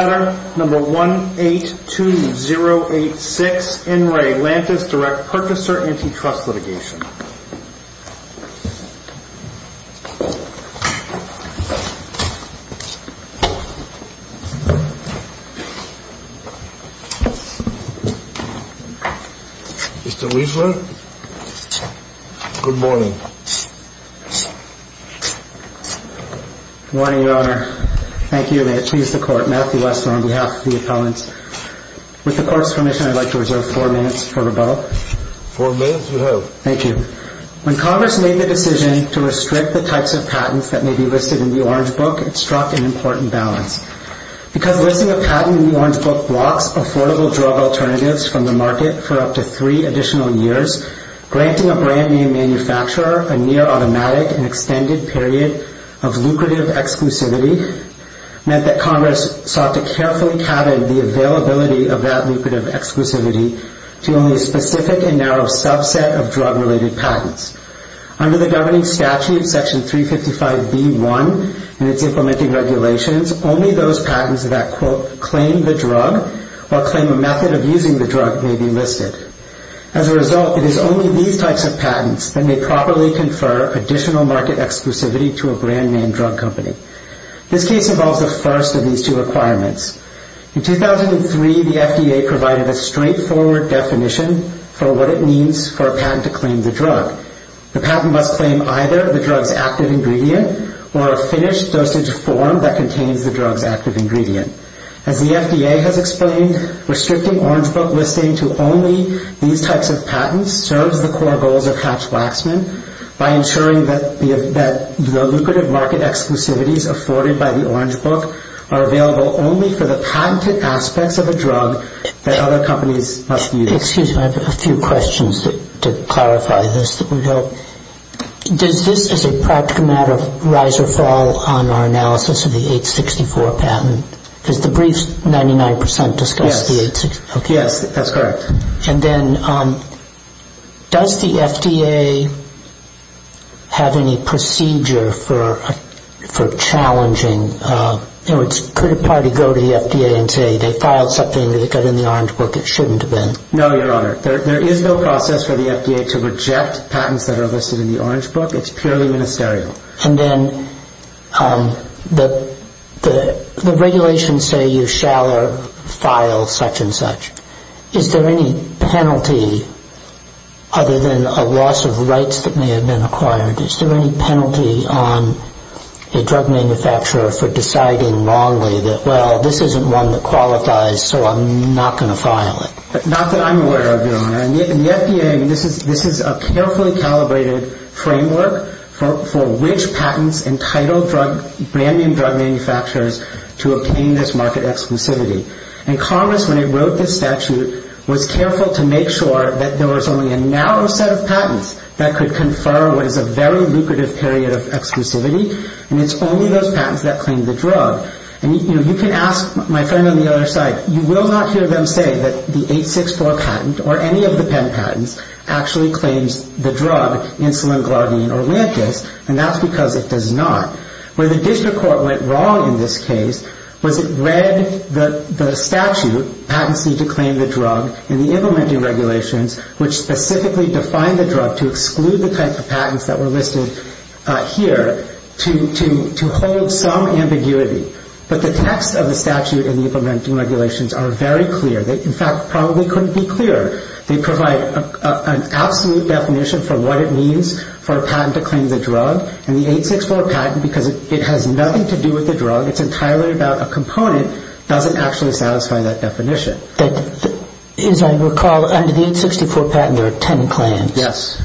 Letter No. 182086 N. Re. Lantus Direct Purchaser Antitrust Litigation. Mr. Weisler, good morning. Good morning, Your Honor. Thank you. May it please the Court, Matthew Weisler on behalf of the appellants. With the Court's permission, I'd like to reserve four minutes for rebuttal. Four minutes, you have. Thank you. When Congress made the decision to restrict the types of patents that may be listed in the Orange Book, it struck an important balance. Because listing a patent in the Orange Book blocks affordable drug alternatives from the market for up to three additional years, granting a brand-new manufacturer a near-automatic and extended period of lucrative exclusivity meant that Congress sought to carefully cabin the availability of that lucrative exclusivity to only a specific and narrow subset of drug-related patents. Under the governing statute, Section 355b.1, and its implementing regulations, only those patents that, quote, claim the drug or claim a method of using the drug may be listed. As a result, it is only these types of patents that may properly confer additional market exclusivity to a brand-name drug company. This case involves the first of these two requirements. In 2003, the FDA provided a straightforward definition for what it means for a patent to claim the drug. The patent must claim either the drug's active ingredient or a finished dosage form that contains the drug's active ingredient. As the FDA has explained, restricting Orange Book listing to only these types of patents serves the core goals of Hatch-Waxman by ensuring that the lucrative market exclusivities afforded by the Orange Book are available only for the patented aspects of a drug that other companies must use. Excuse me, I have a few questions to clarify this that would help. Does this, as a practical matter, rise or fall on our analysis of the 864 patent? Because the briefs, 99 percent discuss the 864. Yes, that's correct. And then, does the FDA have any procedure for challenging, in other words, could a party go to the FDA and say they filed something that got in the Orange Book? It shouldn't have been. No, Your Honor. There is no process for the FDA to reject patents that are listed in the Orange Book. It's purely ministerial. And then, the regulations say you shall file such and such. Is there any penalty, other than a loss of rights that may have been acquired, is there any penalty on a drug manufacturer for deciding wrongly that, well, this isn't one that qualifies, so I'm not going to file it? Not that I'm aware of, Your Honor. In the FDA, this is a carefully calibrated framework for which patents entitled brand-name drug manufacturers to obtain this market exclusivity. And Congress, when it wrote this statute, was careful to make sure that there was only a narrow set of patents that could confer what is a very lucrative period of exclusivity, and it's only those patents that claim the drug. And, you know, you can ask my friend on the other side, you will not hear them say that the 864 patent, or any of the Penn patents, actually claims the drug, insulin, Glardine, or Lantus, and that's because it does not. Where the district court went wrong in this case was it read the statute, patents need to claim the drug, and the implementing regulations, which specifically define the drug to exclude the type of patents that were listed here, to hold some ambiguity. But the text of the statute and the implementing regulations are very clear. They, in fact, probably couldn't be clearer. They provide an absolute definition for what it means for a patent to claim the drug, and the 864 patent, because it has nothing to do with the drug, it's entirely about a component, doesn't actually satisfy that definition. As I recall, under the 864 patent, there are ten claims. Yes.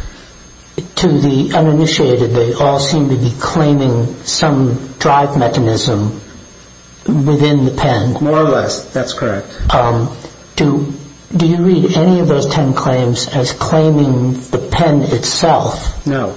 To the uninitiated, they all seem to be claiming some drive mechanism within the pen. More or less, that's correct. Do you read any of those ten claims as claiming the pen itself? No.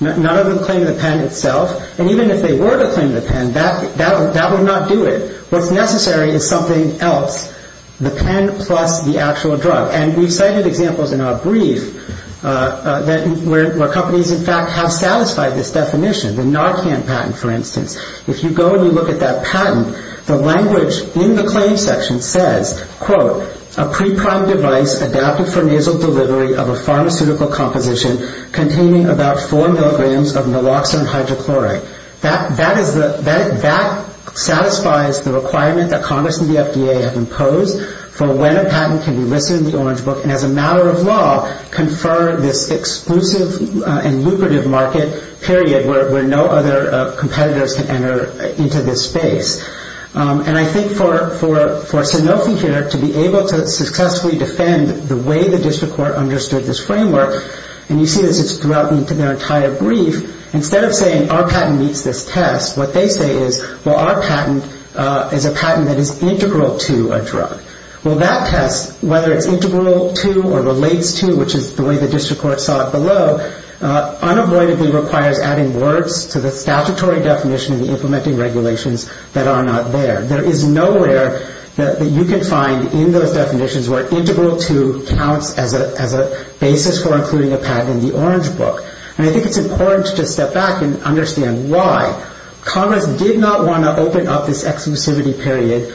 None of them claim the pen itself, and even if they were to claim the pen, that would not do it. What's necessary is something else, the pen plus the actual drug. And we've cited examples in our brief where companies, in fact, have satisfied this definition. The Narcan patent, for instance. If you go and you look at that patent, the language in the claim section says, quote, a pre-primed device adapted for nasal delivery of a pharmaceutical composition containing about four milligrams of naloxone hydrochloride. That satisfies the requirement that Congress and the FDA have imposed for when a patent can be listed in the Orange Book, and as a matter of law, confer this exclusive and lucrative market period where no other competitors can enter into this space. And I think for Sanofi here to be able to successfully defend the way the district court understood this framework, and you see this throughout their entire brief, instead of saying our patent meets this test, what they say is, well, our patent is a patent that is integral to a drug. Well, that test, whether it's integral to or relates to, which is the way the district court saw it below, unavoidably requires adding words to the statutory definition and the implementing regulations that are not there. There is nowhere that you can find in those definitions where integral to counts as a basis for including a patent in the Orange Book. And I think it's important to step back and understand why. Congress did not want to open up this exclusivity period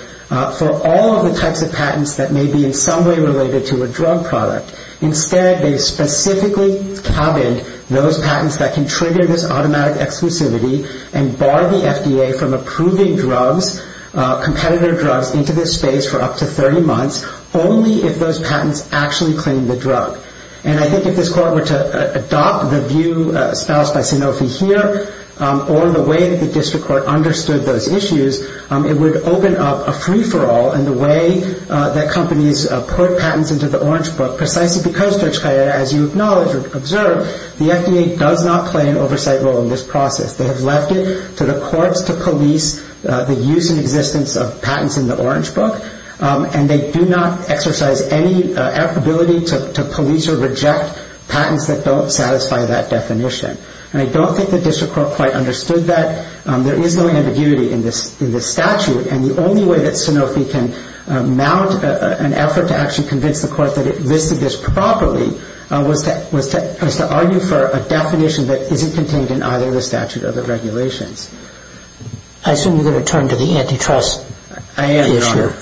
for all of the types of patents that may be in some way related to a drug product. Instead, they specifically cabined those patents that can trigger this automatic exclusivity and bar the FDA from approving drugs, competitor drugs, into this space for up to 30 months, only if those patents actually claim the drug. And I think if this court were to adopt the view espoused by Sanofi here or the way that the district court understood those issues, it would open up a free-for-all in the way that companies put patents into the Orange Book, precisely because, as you acknowledge or observe, the FDA does not play an oversight role in this process. They have left it to the courts to police the use and existence of patents in the Orange Book, and they do not exercise any ability to police or reject patents that don't satisfy that definition. And I don't think the district court quite understood that. There is no ambiguity in this statute, and the only way that Sanofi can mount an effort to actually convince the court that it listed this properly was to argue for a definition that isn't contained in either the statute or the regulations. I assume you're going to turn to the antitrust issue. I am, Your Honor.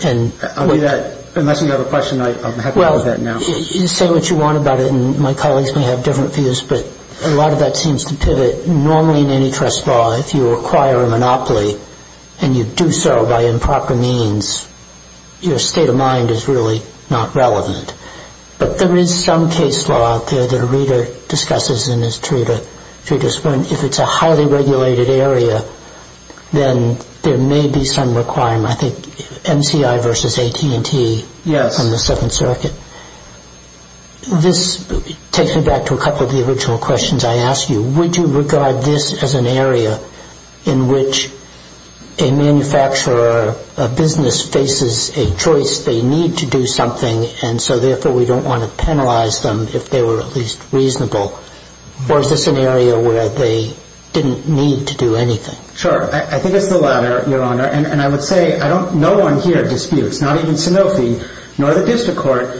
I'll do that. Unless you have a question, I'm happy to pose that now. Well, you say what you want about it, and my colleagues may have different views, but a lot of that seems to pivot. Normally in antitrust law, if you acquire a monopoly and you do so by improper means, your state of mind is really not relevant. But there is some case law out there that a reader discusses in his treatise where if it's a highly regulated area, then there may be some requirement. I think MCI versus AT&T on the Second Circuit. Yes. This takes me back to a couple of the original questions I asked you. Would you regard this as an area in which a manufacturer, a business, faces a choice? They need to do something, and so therefore we don't want to penalize them if they were at least reasonable. Or is this an area where they didn't need to do anything? Sure. I think it's the latter, Your Honor. And I would say no one here disputes, not even Sanofi nor the district court,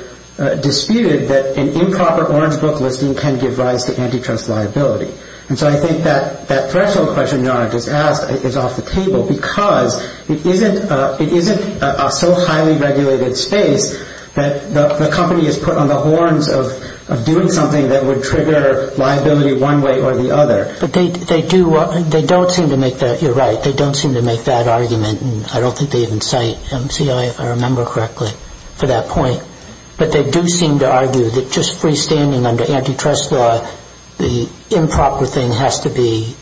disputed that an improper orange book listing can give rise to antitrust liability. And so I think that threshold question Your Honor just asked is off the table because it isn't a so highly regulated space that the company is put on the horns of doing something that would trigger liability one way or the other. You're right. They don't seem to make that argument, and I don't think they even cite MCI, if I remember correctly, for that point. But they do seem to argue that just freestanding under antitrust law, the improper thing has to be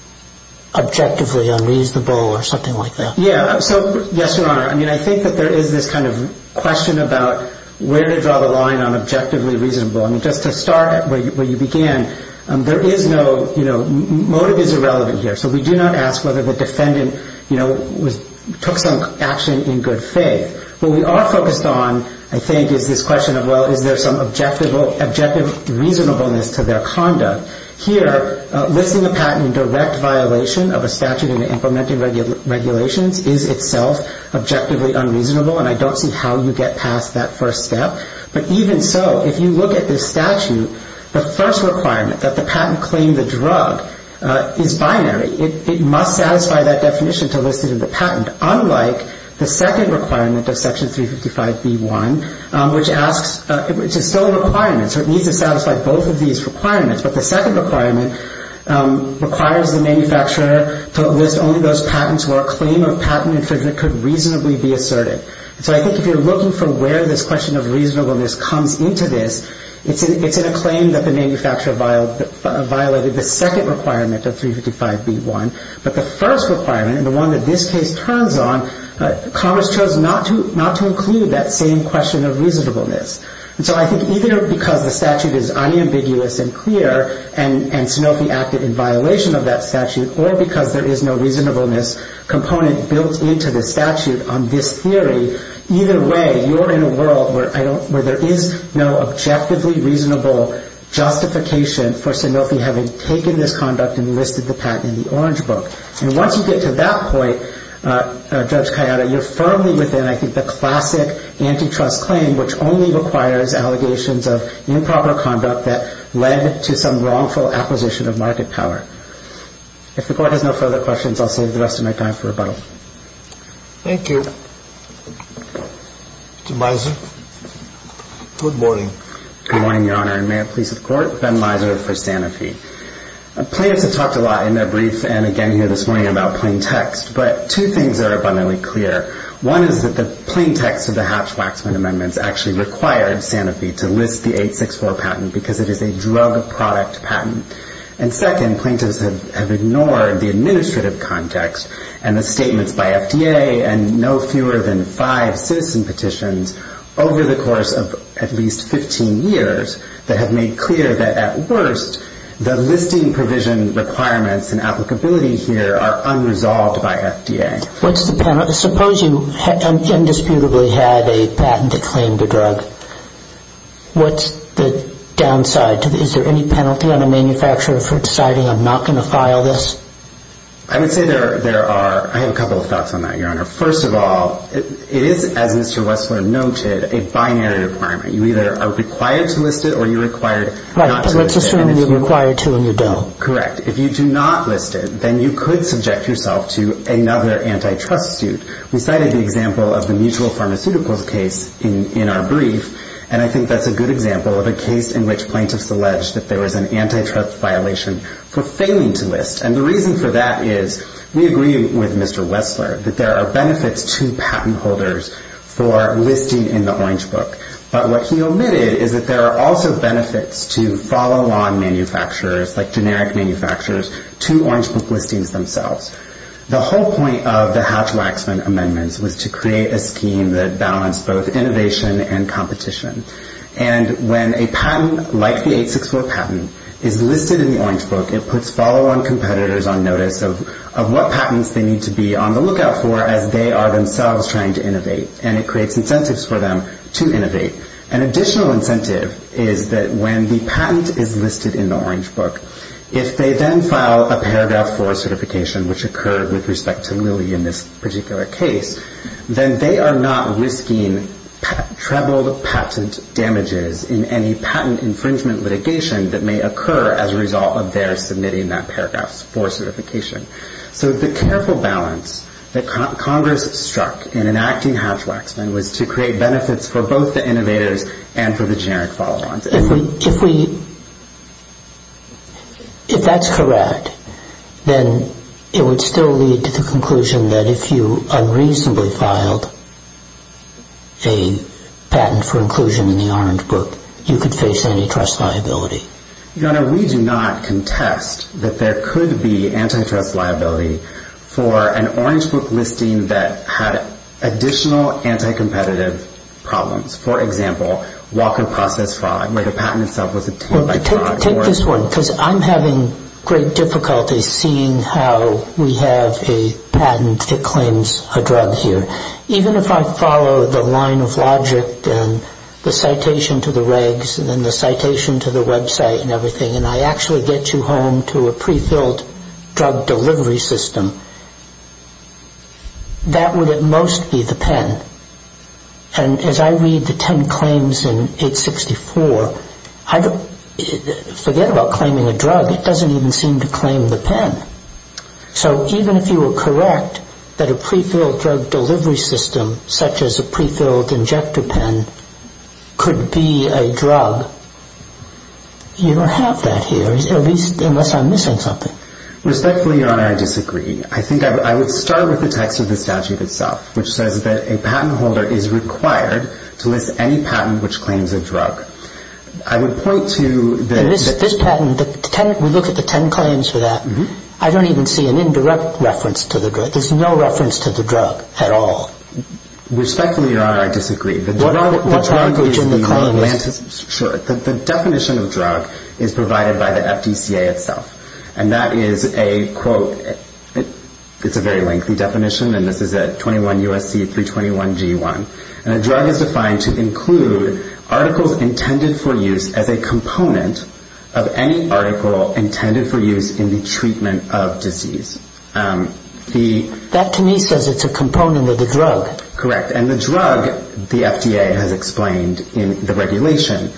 objectively unreasonable or something like that. Yes, Your Honor. I think that there is this kind of question about where to draw the line on objectively reasonable. I mean, just to start where you began, there is no, you know, motive is irrelevant here. So we do not ask whether the defendant, you know, took some action in good faith. What we are focused on, I think, is this question of, well, is there some objective reasonableness to their conduct. Here, listing a patent in direct violation of a statute in the implementing regulations is itself objectively unreasonable, and I don't see how you get past that first step. But even so, if you look at this statute, the first requirement, that the patent claim the drug, is binary. It must satisfy that definition to list it as a patent, unlike the second requirement of Section 355B1, which asks, which is still a requirement, so it needs to satisfy both of these requirements. But the second requirement requires the manufacturer to list only those patents where a claim of patent infringement could reasonably be asserted. So I think if you're looking for where this question of reasonableness comes into this, it's in a claim that the manufacturer violated the second requirement of 355B1, but the first requirement, and the one that this case turns on, Commerce chose not to include that same question of reasonableness. So I think either because the statute is unambiguous and clear, and Sanofi acted in violation of that statute, or because there is no reasonableness component built into the statute on this theory, either way, you're in a world where there is no objectively reasonable justification for Sanofi having taken this conduct and listed the patent in the orange book. And once you get to that point, Judge Kayada, you're firmly within, I think, the classic antitrust claim, which only requires allegations of improper conduct that led to some wrongful acquisition of market power. If the Court has no further questions, I'll save the rest of my time for rebuttal. Thank you. Mr. Mizer, good morning. Good morning, Your Honor, and may it please the Court, Ben Mizer for Sanofi. Plaintiffs have talked a lot in their brief and again here this morning about plain text, but two things are abundantly clear. One is that the plain text of the Hatch-Waxman amendments actually required Sanofi to list the 864 patent because it is a drug product patent. And second, plaintiffs have ignored the administrative context and the statements by FDA and no fewer than five citizen petitions over the course of at least 15 years that have made clear that at worst the listing provision requirements and applicability here are unresolved by FDA. What's the penalty? Suppose you indisputably had a patent that claimed a drug. What's the downside? Is there any penalty on a manufacturer for deciding I'm not going to file this? I would say there are. I have a couple of thoughts on that, Your Honor. First of all, it is, as Mr. Wessler noted, a binary requirement. You either are required to list it or you're required not to list it. Let's assume you're required to and you don't. Correct. And if you do not list it, then you could subject yourself to another antitrust suit. We cited the example of the Mutual Pharmaceuticals case in our brief, and I think that's a good example of a case in which plaintiffs alleged that there was an antitrust violation for failing to list. And the reason for that is we agree with Mr. Wessler that there are benefits to patent holders for listing in the Orange Book. But what he omitted is that there are also benefits to follow-on manufacturers, like generic manufacturers, to Orange Book listings themselves. The whole point of the Hatch-Waxman amendments was to create a scheme that balanced both innovation and competition. And when a patent, like the 864 patent, is listed in the Orange Book, it puts follow-on competitors on notice of what patents they need to be on the lookout for as they are themselves trying to innovate, and it creates incentives for them to innovate. An additional incentive is that when the patent is listed in the Orange Book, if they then file a Paragraph 4 certification, which occurred with respect to Lilly in this particular case, then they are not risking troubled patent damages in any patent infringement litigation that may occur as a result of their submitting that Paragraph 4 certification. So the careful balance that Congress struck in enacting Hatch-Waxman was to create benefits for both the innovators and for the generic follow-ons. If that's correct, then it would still lead to the conclusion that if you unreasonably filed a patent for inclusion in the Orange Book, you could face antitrust liability. Your Honor, we do not contest that there could be antitrust liability for an Orange Book listing that had additional anti-competitive problems. For example, Walker Process Fraud, where the patent itself was obtained by fraud. Take this one, because I'm having great difficulty seeing how we have a patent that claims a drug here. Even if I follow the line of logic and the citation to the regs and the citation to the website and everything, and I actually get you home to a prefilled drug delivery system, that would at most be the pen. And as I read the ten claims in 864, forget about claiming a drug, it doesn't even seem to claim the pen. So even if you were correct that a prefilled drug delivery system, such as a prefilled injector pen, could be a drug, you don't have that here, unless I'm missing something. Respectfully, Your Honor, I disagree. I would start with the text of the statute itself, which says that a patent holder is required to list any patent which claims a drug. In this patent, we look at the ten claims for that. I don't even see an indirect reference to the drug. There's no reference to the drug at all. Respectfully, Your Honor, I disagree. What language are you calling this? Sure. The definition of drug is provided by the FDCA itself, and that is a quote. It's a very lengthy definition, and this is at 21 U.S.C. 321 G.1. And a drug is defined to include articles intended for use as a component of any article intended for use in the treatment of disease. That to me says it's a component of the drug. Correct. And the drug, the FDA has explained in the regulation,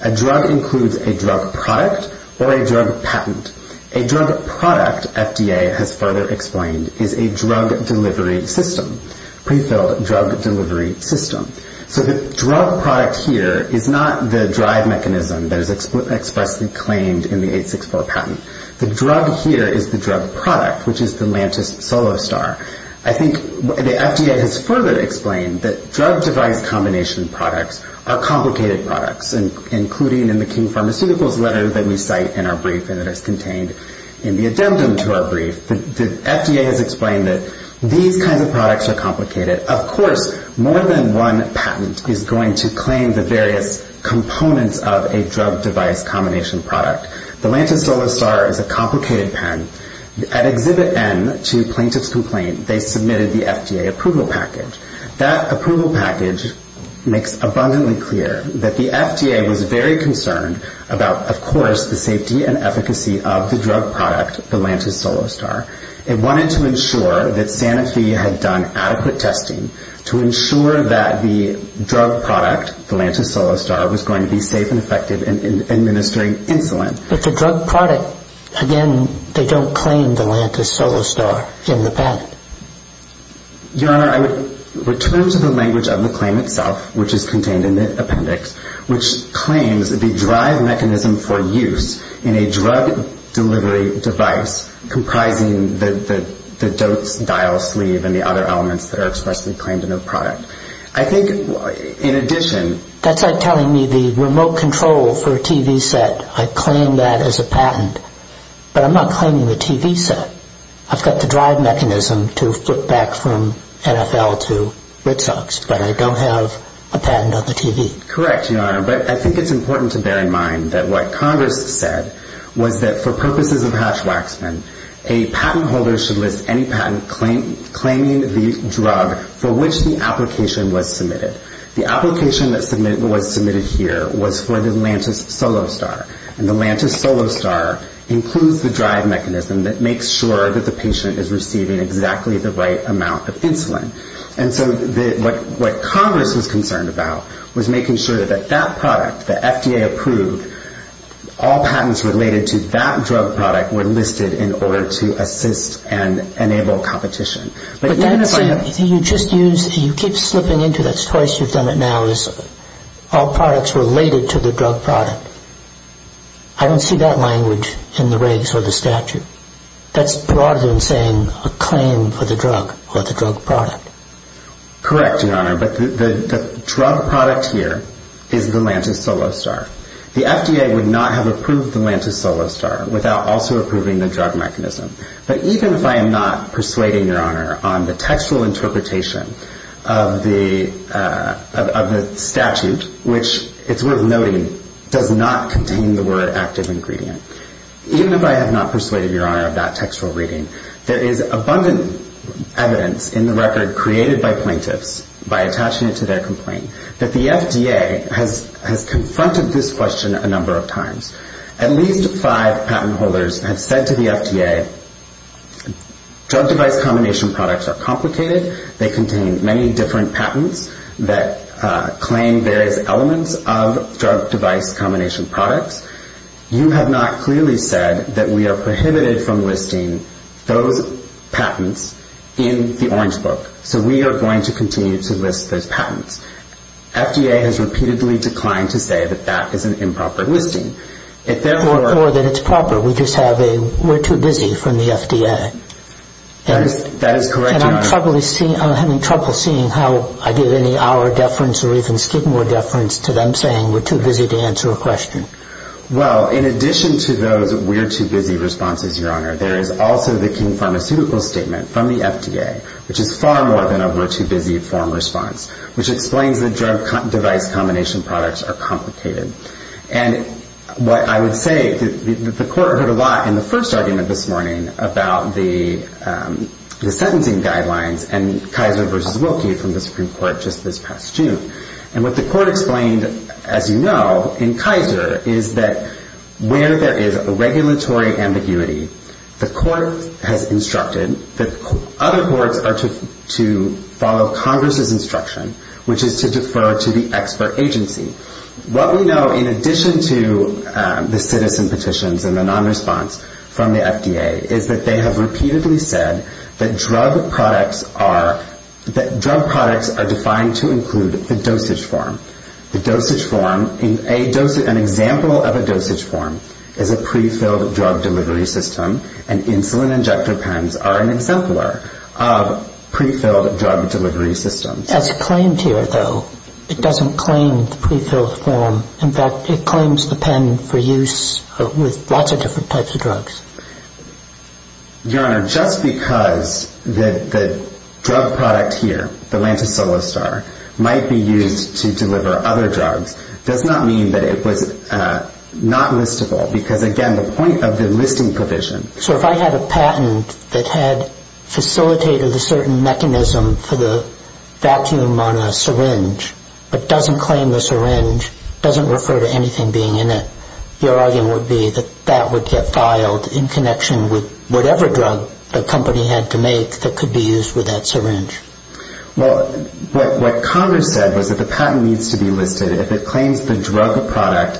a drug includes a drug product or a drug patent. A drug product, FDA has further explained, is a drug delivery system, pre-filled drug delivery system. So the drug product here is not the drive mechanism that is expressly claimed in the 864 patent. The drug here is the drug product, which is the Lantus Solostar. I think the FDA has further explained that drug device combination products are complicated products, including in the King Pharmaceuticals letter that we cite in our brief and that is contained in the addendum to our brief. The FDA has explained that these kinds of products are complicated. Of course, more than one patent is going to claim the various components of a drug device combination product. The Lantus Solostar is a complicated patent. At Exhibit N, to plaintiff's complaint, they submitted the FDA approval package. That approval package makes abundantly clear that the FDA was very concerned about, of course, the safety and efficacy of the drug product, the Lantus Solostar. It wanted to ensure that Sanofi had done adequate testing to ensure that the drug product, the Lantus Solostar, was going to be safe and effective in administering insulin. But the drug product, again, they don't claim the Lantus Solostar in the patent. Your Honor, I would return to the language of the claim itself, which is contained in the appendix, which claims the drive mechanism for use in a drug delivery device comprising the dose dial sleeve and the other elements that are expressly claimed in the product. I think, in addition... That's like telling me the remote control for a TV set, I claim that as a patent. But I'm not claiming the TV set. I've got the drive mechanism to flip back from NFL to Red Sox, but I don't have a patent on the TV. Correct, Your Honor. But I think it's important to bear in mind that what Congress said was that, for purposes of Hatch-Waxman, a patent holder should list any patent claiming the drug for which the application was submitted. The application that was submitted here was for the Lantus Solostar. And the Lantus Solostar includes the drive mechanism that makes sure that the patient is receiving exactly the right amount of insulin. And so what Congress was concerned about was making sure that that product, the FDA-approved, all patents related to that drug product were listed in order to assist and enable competition. But even if I know... See, you keep slipping into that choice, you've done it now, is all products related to the drug product. I don't see that language in the regs or the statute. That's broader than saying a claim for the drug or the drug product. Correct, Your Honor. But the drug product here is the Lantus Solostar. The FDA would not have approved the Lantus Solostar without also approving the drug mechanism. But even if I am not persuading, Your Honor, on the textual interpretation of the statute, which it's worth noting does not contain the word active ingredient, even if I have not persuaded, Your Honor, of that textual reading, there is abundant evidence in the record created by plaintiffs by attaching it to their complaint that the FDA has confronted this question a number of times. At least five patent holders have said to the FDA, drug device combination products are complicated. They contain many different patents that claim various elements of drug device combination products. You have not clearly said that we are prohibited from listing those patents in the Orange Book. So we are going to continue to list those patents. FDA has repeatedly declined to say that that is an improper listing. Or that it's proper. We just have a we're too busy from the FDA. That is correct, Your Honor. And I'm having trouble seeing how I give any hour deference or even stigma deference to them saying we're too busy to answer a question. Well, in addition to those we're too busy responses, Your Honor, there is also the King Pharmaceutical Statement from the FDA, which is far more than a we're too busy form response, which explains the drug device combination products are complicated. And what I would say, the court heard a lot in the first argument this morning about the sentencing guidelines and Kaiser v. Wilkie from the Supreme Court just this past June. And what the court explained, as you know, in Kaiser is that where there is a regulatory ambiguity, the court has instructed that other courts are to follow Congress' instruction, which is to defer to the expert agency. What we know in addition to the citizen petitions and the nonresponse from the FDA is that they have repeatedly said that drug products are defined to include the dosage form. The dosage form, an example of a dosage form is a pre-filled drug delivery system and insulin injector pens are an exemplar of pre-filled drug delivery systems. That's claimed here, though. It doesn't claim the pre-filled form. In fact, it claims the pen for use with lots of different types of drugs. Your Honor, just because the drug product here, the Lantosolastar, might be used to deliver other drugs does not mean that it was not listable because, again, the point of the listing provision. So if I had a patent that had facilitated a certain mechanism for the vacuum on a syringe but doesn't claim the syringe, doesn't refer to anything being in it, your argument would be that that would get filed in connection with whatever drug the company had to make that could be used with that syringe. Well, what Congress said was that the patent needs to be listed if it claims the drug product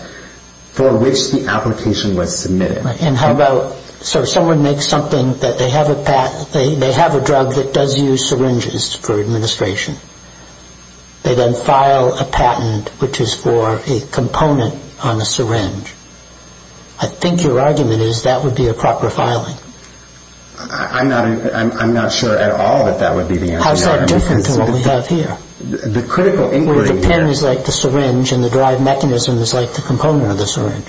for which the application was submitted. And how about, so someone makes something that they have a drug that does use syringes for administration. They then file a patent which is for a component on a syringe. I think your argument is that would be a proper filing. I'm not sure at all that that would be the answer. How is that different from what we have here? The critical inquiry here... Well, if the patent is like the syringe and the drive mechanism is like the component of the syringe.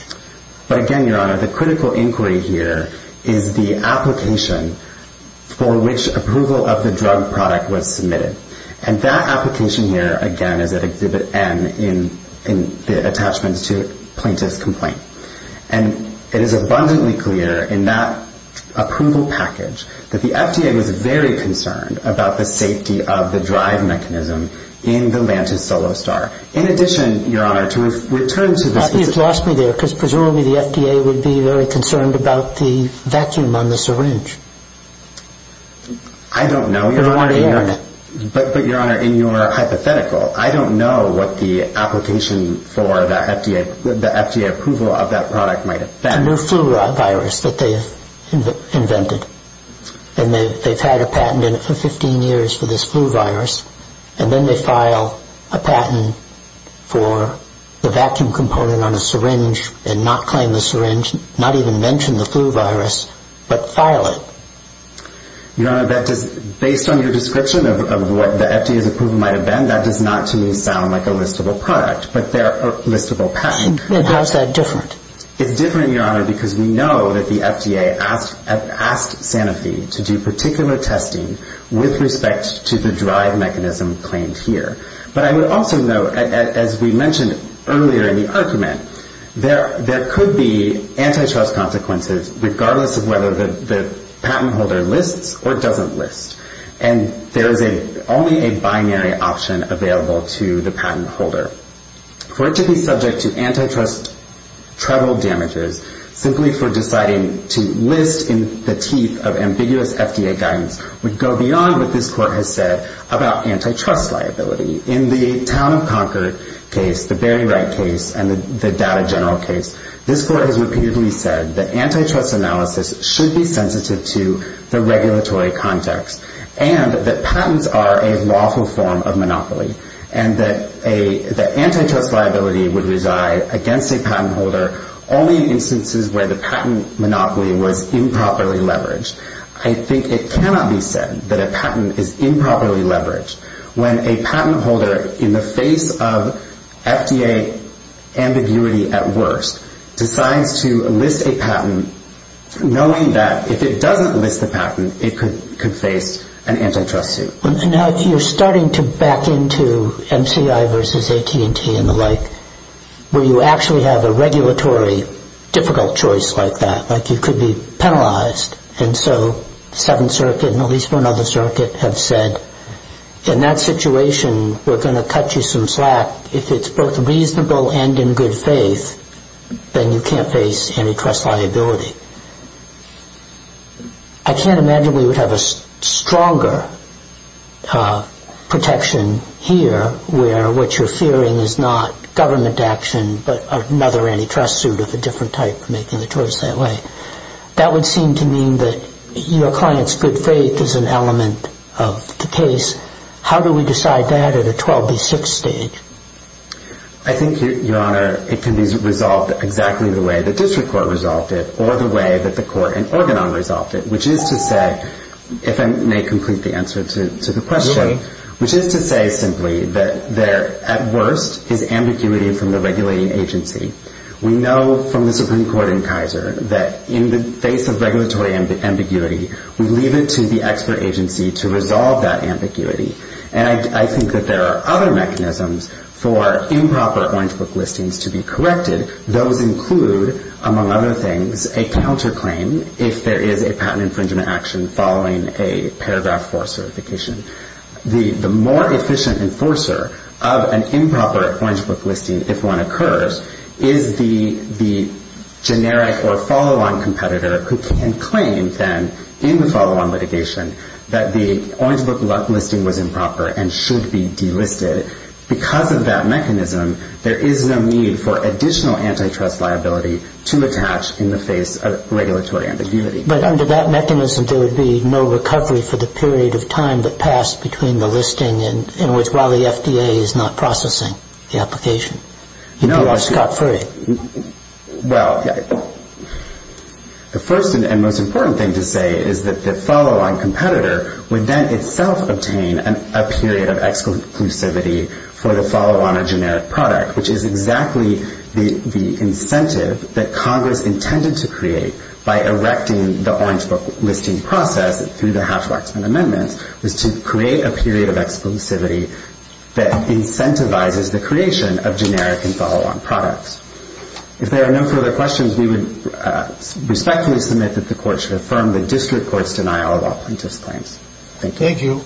But again, your Honor, the critical inquiry here is the application for which approval of the drug product was submitted. And that application here, again, is at Exhibit N in the attachments to plaintiff's complaint. And it is abundantly clear in that approval package that the FDA was very concerned about the safety of the drive mechanism in the Lantus Solostar. In addition, your Honor, to return to the... You've lost me there because presumably the FDA would be very concerned about the vacuum on the syringe. I don't know, your Honor. But, your Honor, in your hypothetical, I don't know what the application for the FDA approval of that product might affect. The new flu virus that they've invented. And they've had a patent in it for 15 years for this flu virus. And then they file a patent for the vacuum component on a syringe and not claim the syringe, not even mention the flu virus, but file it. Your Honor, based on your description of what the FDA's approval might have been, that does not, to me, sound like a listable product. But they're a listable patent. How is that different? It's different, your Honor, because we know that the FDA asked Sanofi to do particular testing with respect to the drive mechanism claimed here. But I would also note, as we mentioned earlier in the argument, there could be antitrust consequences regardless of whether the patent holder lists or doesn't list. And there is only a binary option available to the patent holder. For it to be subject to antitrust trouble damages, simply for deciding to list in the teeth of ambiguous FDA guidance, would go beyond what this Court has said about antitrust liability. In the Town of Concord case, the Barry Wright case, and the Data General case, this Court has repeatedly said that antitrust analysis should be sensitive to the regulatory context and that patents are a lawful form of monopoly and that antitrust liability would reside against a patent holder only in instances where the patent monopoly was improperly leveraged. I think it cannot be said that a patent is improperly leveraged. When a patent holder, in the face of FDA ambiguity at worst, decides to list a patent, knowing that if it doesn't list the patent, it could face an antitrust suit. And now you're starting to back into MCI versus AT&T and the like, where you actually have a regulatory difficult choice like that, like you could be penalized. And so Seventh Circuit and at least one other circuit have said, in that situation, we're going to cut you some slack. If it's both reasonable and in good faith, then you can't face antitrust liability. I can't imagine we would have a stronger protection here, where what you're fearing is not government action, but another antitrust suit of a different type making the choice that way. That would seem to mean that your client's good faith is an element of the case. How do we decide that at a 12B6 stage? I think, Your Honor, it can be resolved exactly the way the district court resolved it or the way that the court in Organon resolved it, which is to say, if I may complete the answer to the question, which is to say simply that at worst is ambiguity from the regulating agency. We know from the Supreme Court in Kaiser that in the face of regulatory ambiguity, we leave it to the expert agency to resolve that ambiguity. And I think that there are other mechanisms for improper Orange Book listings to be corrected. Those include, among other things, a counterclaim if there is a patent infringement action following a paragraph 4 certification. The more efficient enforcer of an improper Orange Book listing, if one occurs, is the generic or follow-on competitor who can claim then in the follow-on litigation that the Orange Book listing was improper and should be delisted. Because of that mechanism, there is a need for additional antitrust liability to attach in the face of regulatory ambiguity. But under that mechanism, there would be no recovery for the period of time that passed between the listing in which while the FDA is not processing the application. You'd be off scot-free. Well, the first and most important thing to say is that the follow-on competitor would then itself obtain a period of exclusivity for the follow-on or generic product, which is exactly the incentive that Congress intended to create by erecting the Orange Book listing process through the Hatch-Waxman amendments was to create a period of exclusivity that incentivizes the creation of generic and follow-on products. If there are no further questions, we would respectfully submit that the Court should affirm the district court's denial of all plaintiffs' claims. Thank you.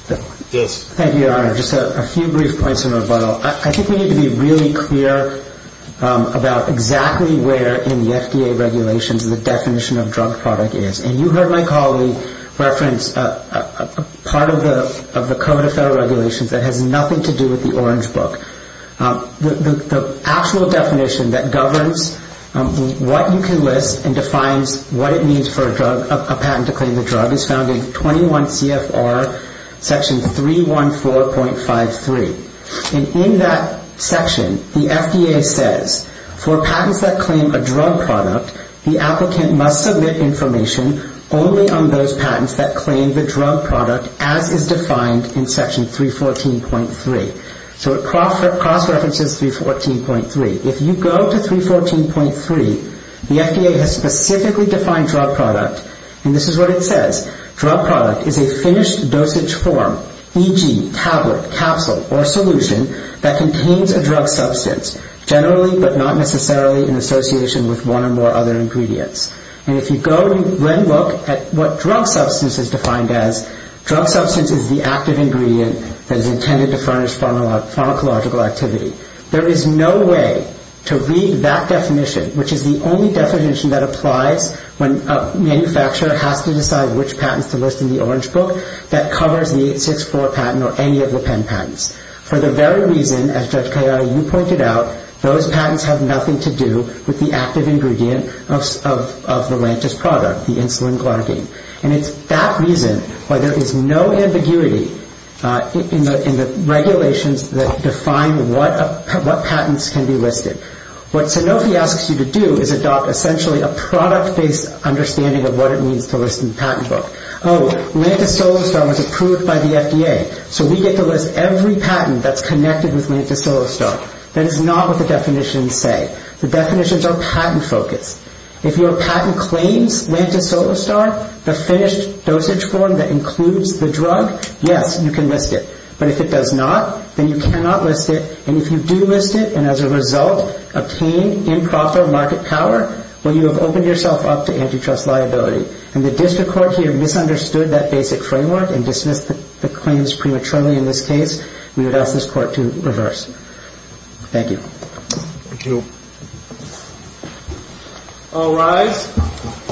Thank you. Thank you. Yes. Thank you, Your Honor. Just a few brief points in rebuttal. I think we need to be really clear about exactly where in the FDA regulations the definition of drug product is. You heard my colleague reference part of the Code of Federal Regulations that has nothing to do with the Orange Book. The actual definition that governs what you can list and defines what it means for a patent to claim the drug is found in 21 CFR section 314.53. In that section, the FDA says, For patents that claim a drug product, the applicant must submit information only on those patents that claim the drug product as is defined in section 314.3. So it cross-references 314.3. If you go to 314.3, the FDA has specifically defined drug product, and this is what it says. Drug product is a finished dosage form, e.g., tablet, capsule, or solution, that contains a drug substance, generally but not necessarily in association with one or more other ingredients. And if you go and look at what drug substance is defined as, drug substance is the active ingredient that is intended to furnish pharmacological activity. There is no way to read that definition, which is the only definition that applies when a manufacturer has to decide which patents to list in the Orange Book that covers the 864 patent or any of the Penn patents. For the very reason, as Judge Kayano, you pointed out, those patents have nothing to do with the active ingredient of the Lantus product, the insulin glycine. And it's that reason why there is no ambiguity in the regulations that define what patents can be listed. What Sanofi asks you to do is adopt, essentially, a product-based understanding of what it means to list in the patent book. Oh, Lantus Solustone was approved by the FDA, so we get to list every patent that's connected with Lantus Solustone. That is not what the definitions say. The definitions are patent-focused. If your patent claims Lantus Solustone, the finished dosage form that includes the drug, yes, you can list it. But if it does not, then you cannot list it. And if you do list it and, as a result, obtain improper market power, well, you have opened yourself up to antitrust liability. And the district court here misunderstood that basic framework and dismissed the claims prematurely in this case. We would ask this court to reverse. Thank you. Thank you. All rise.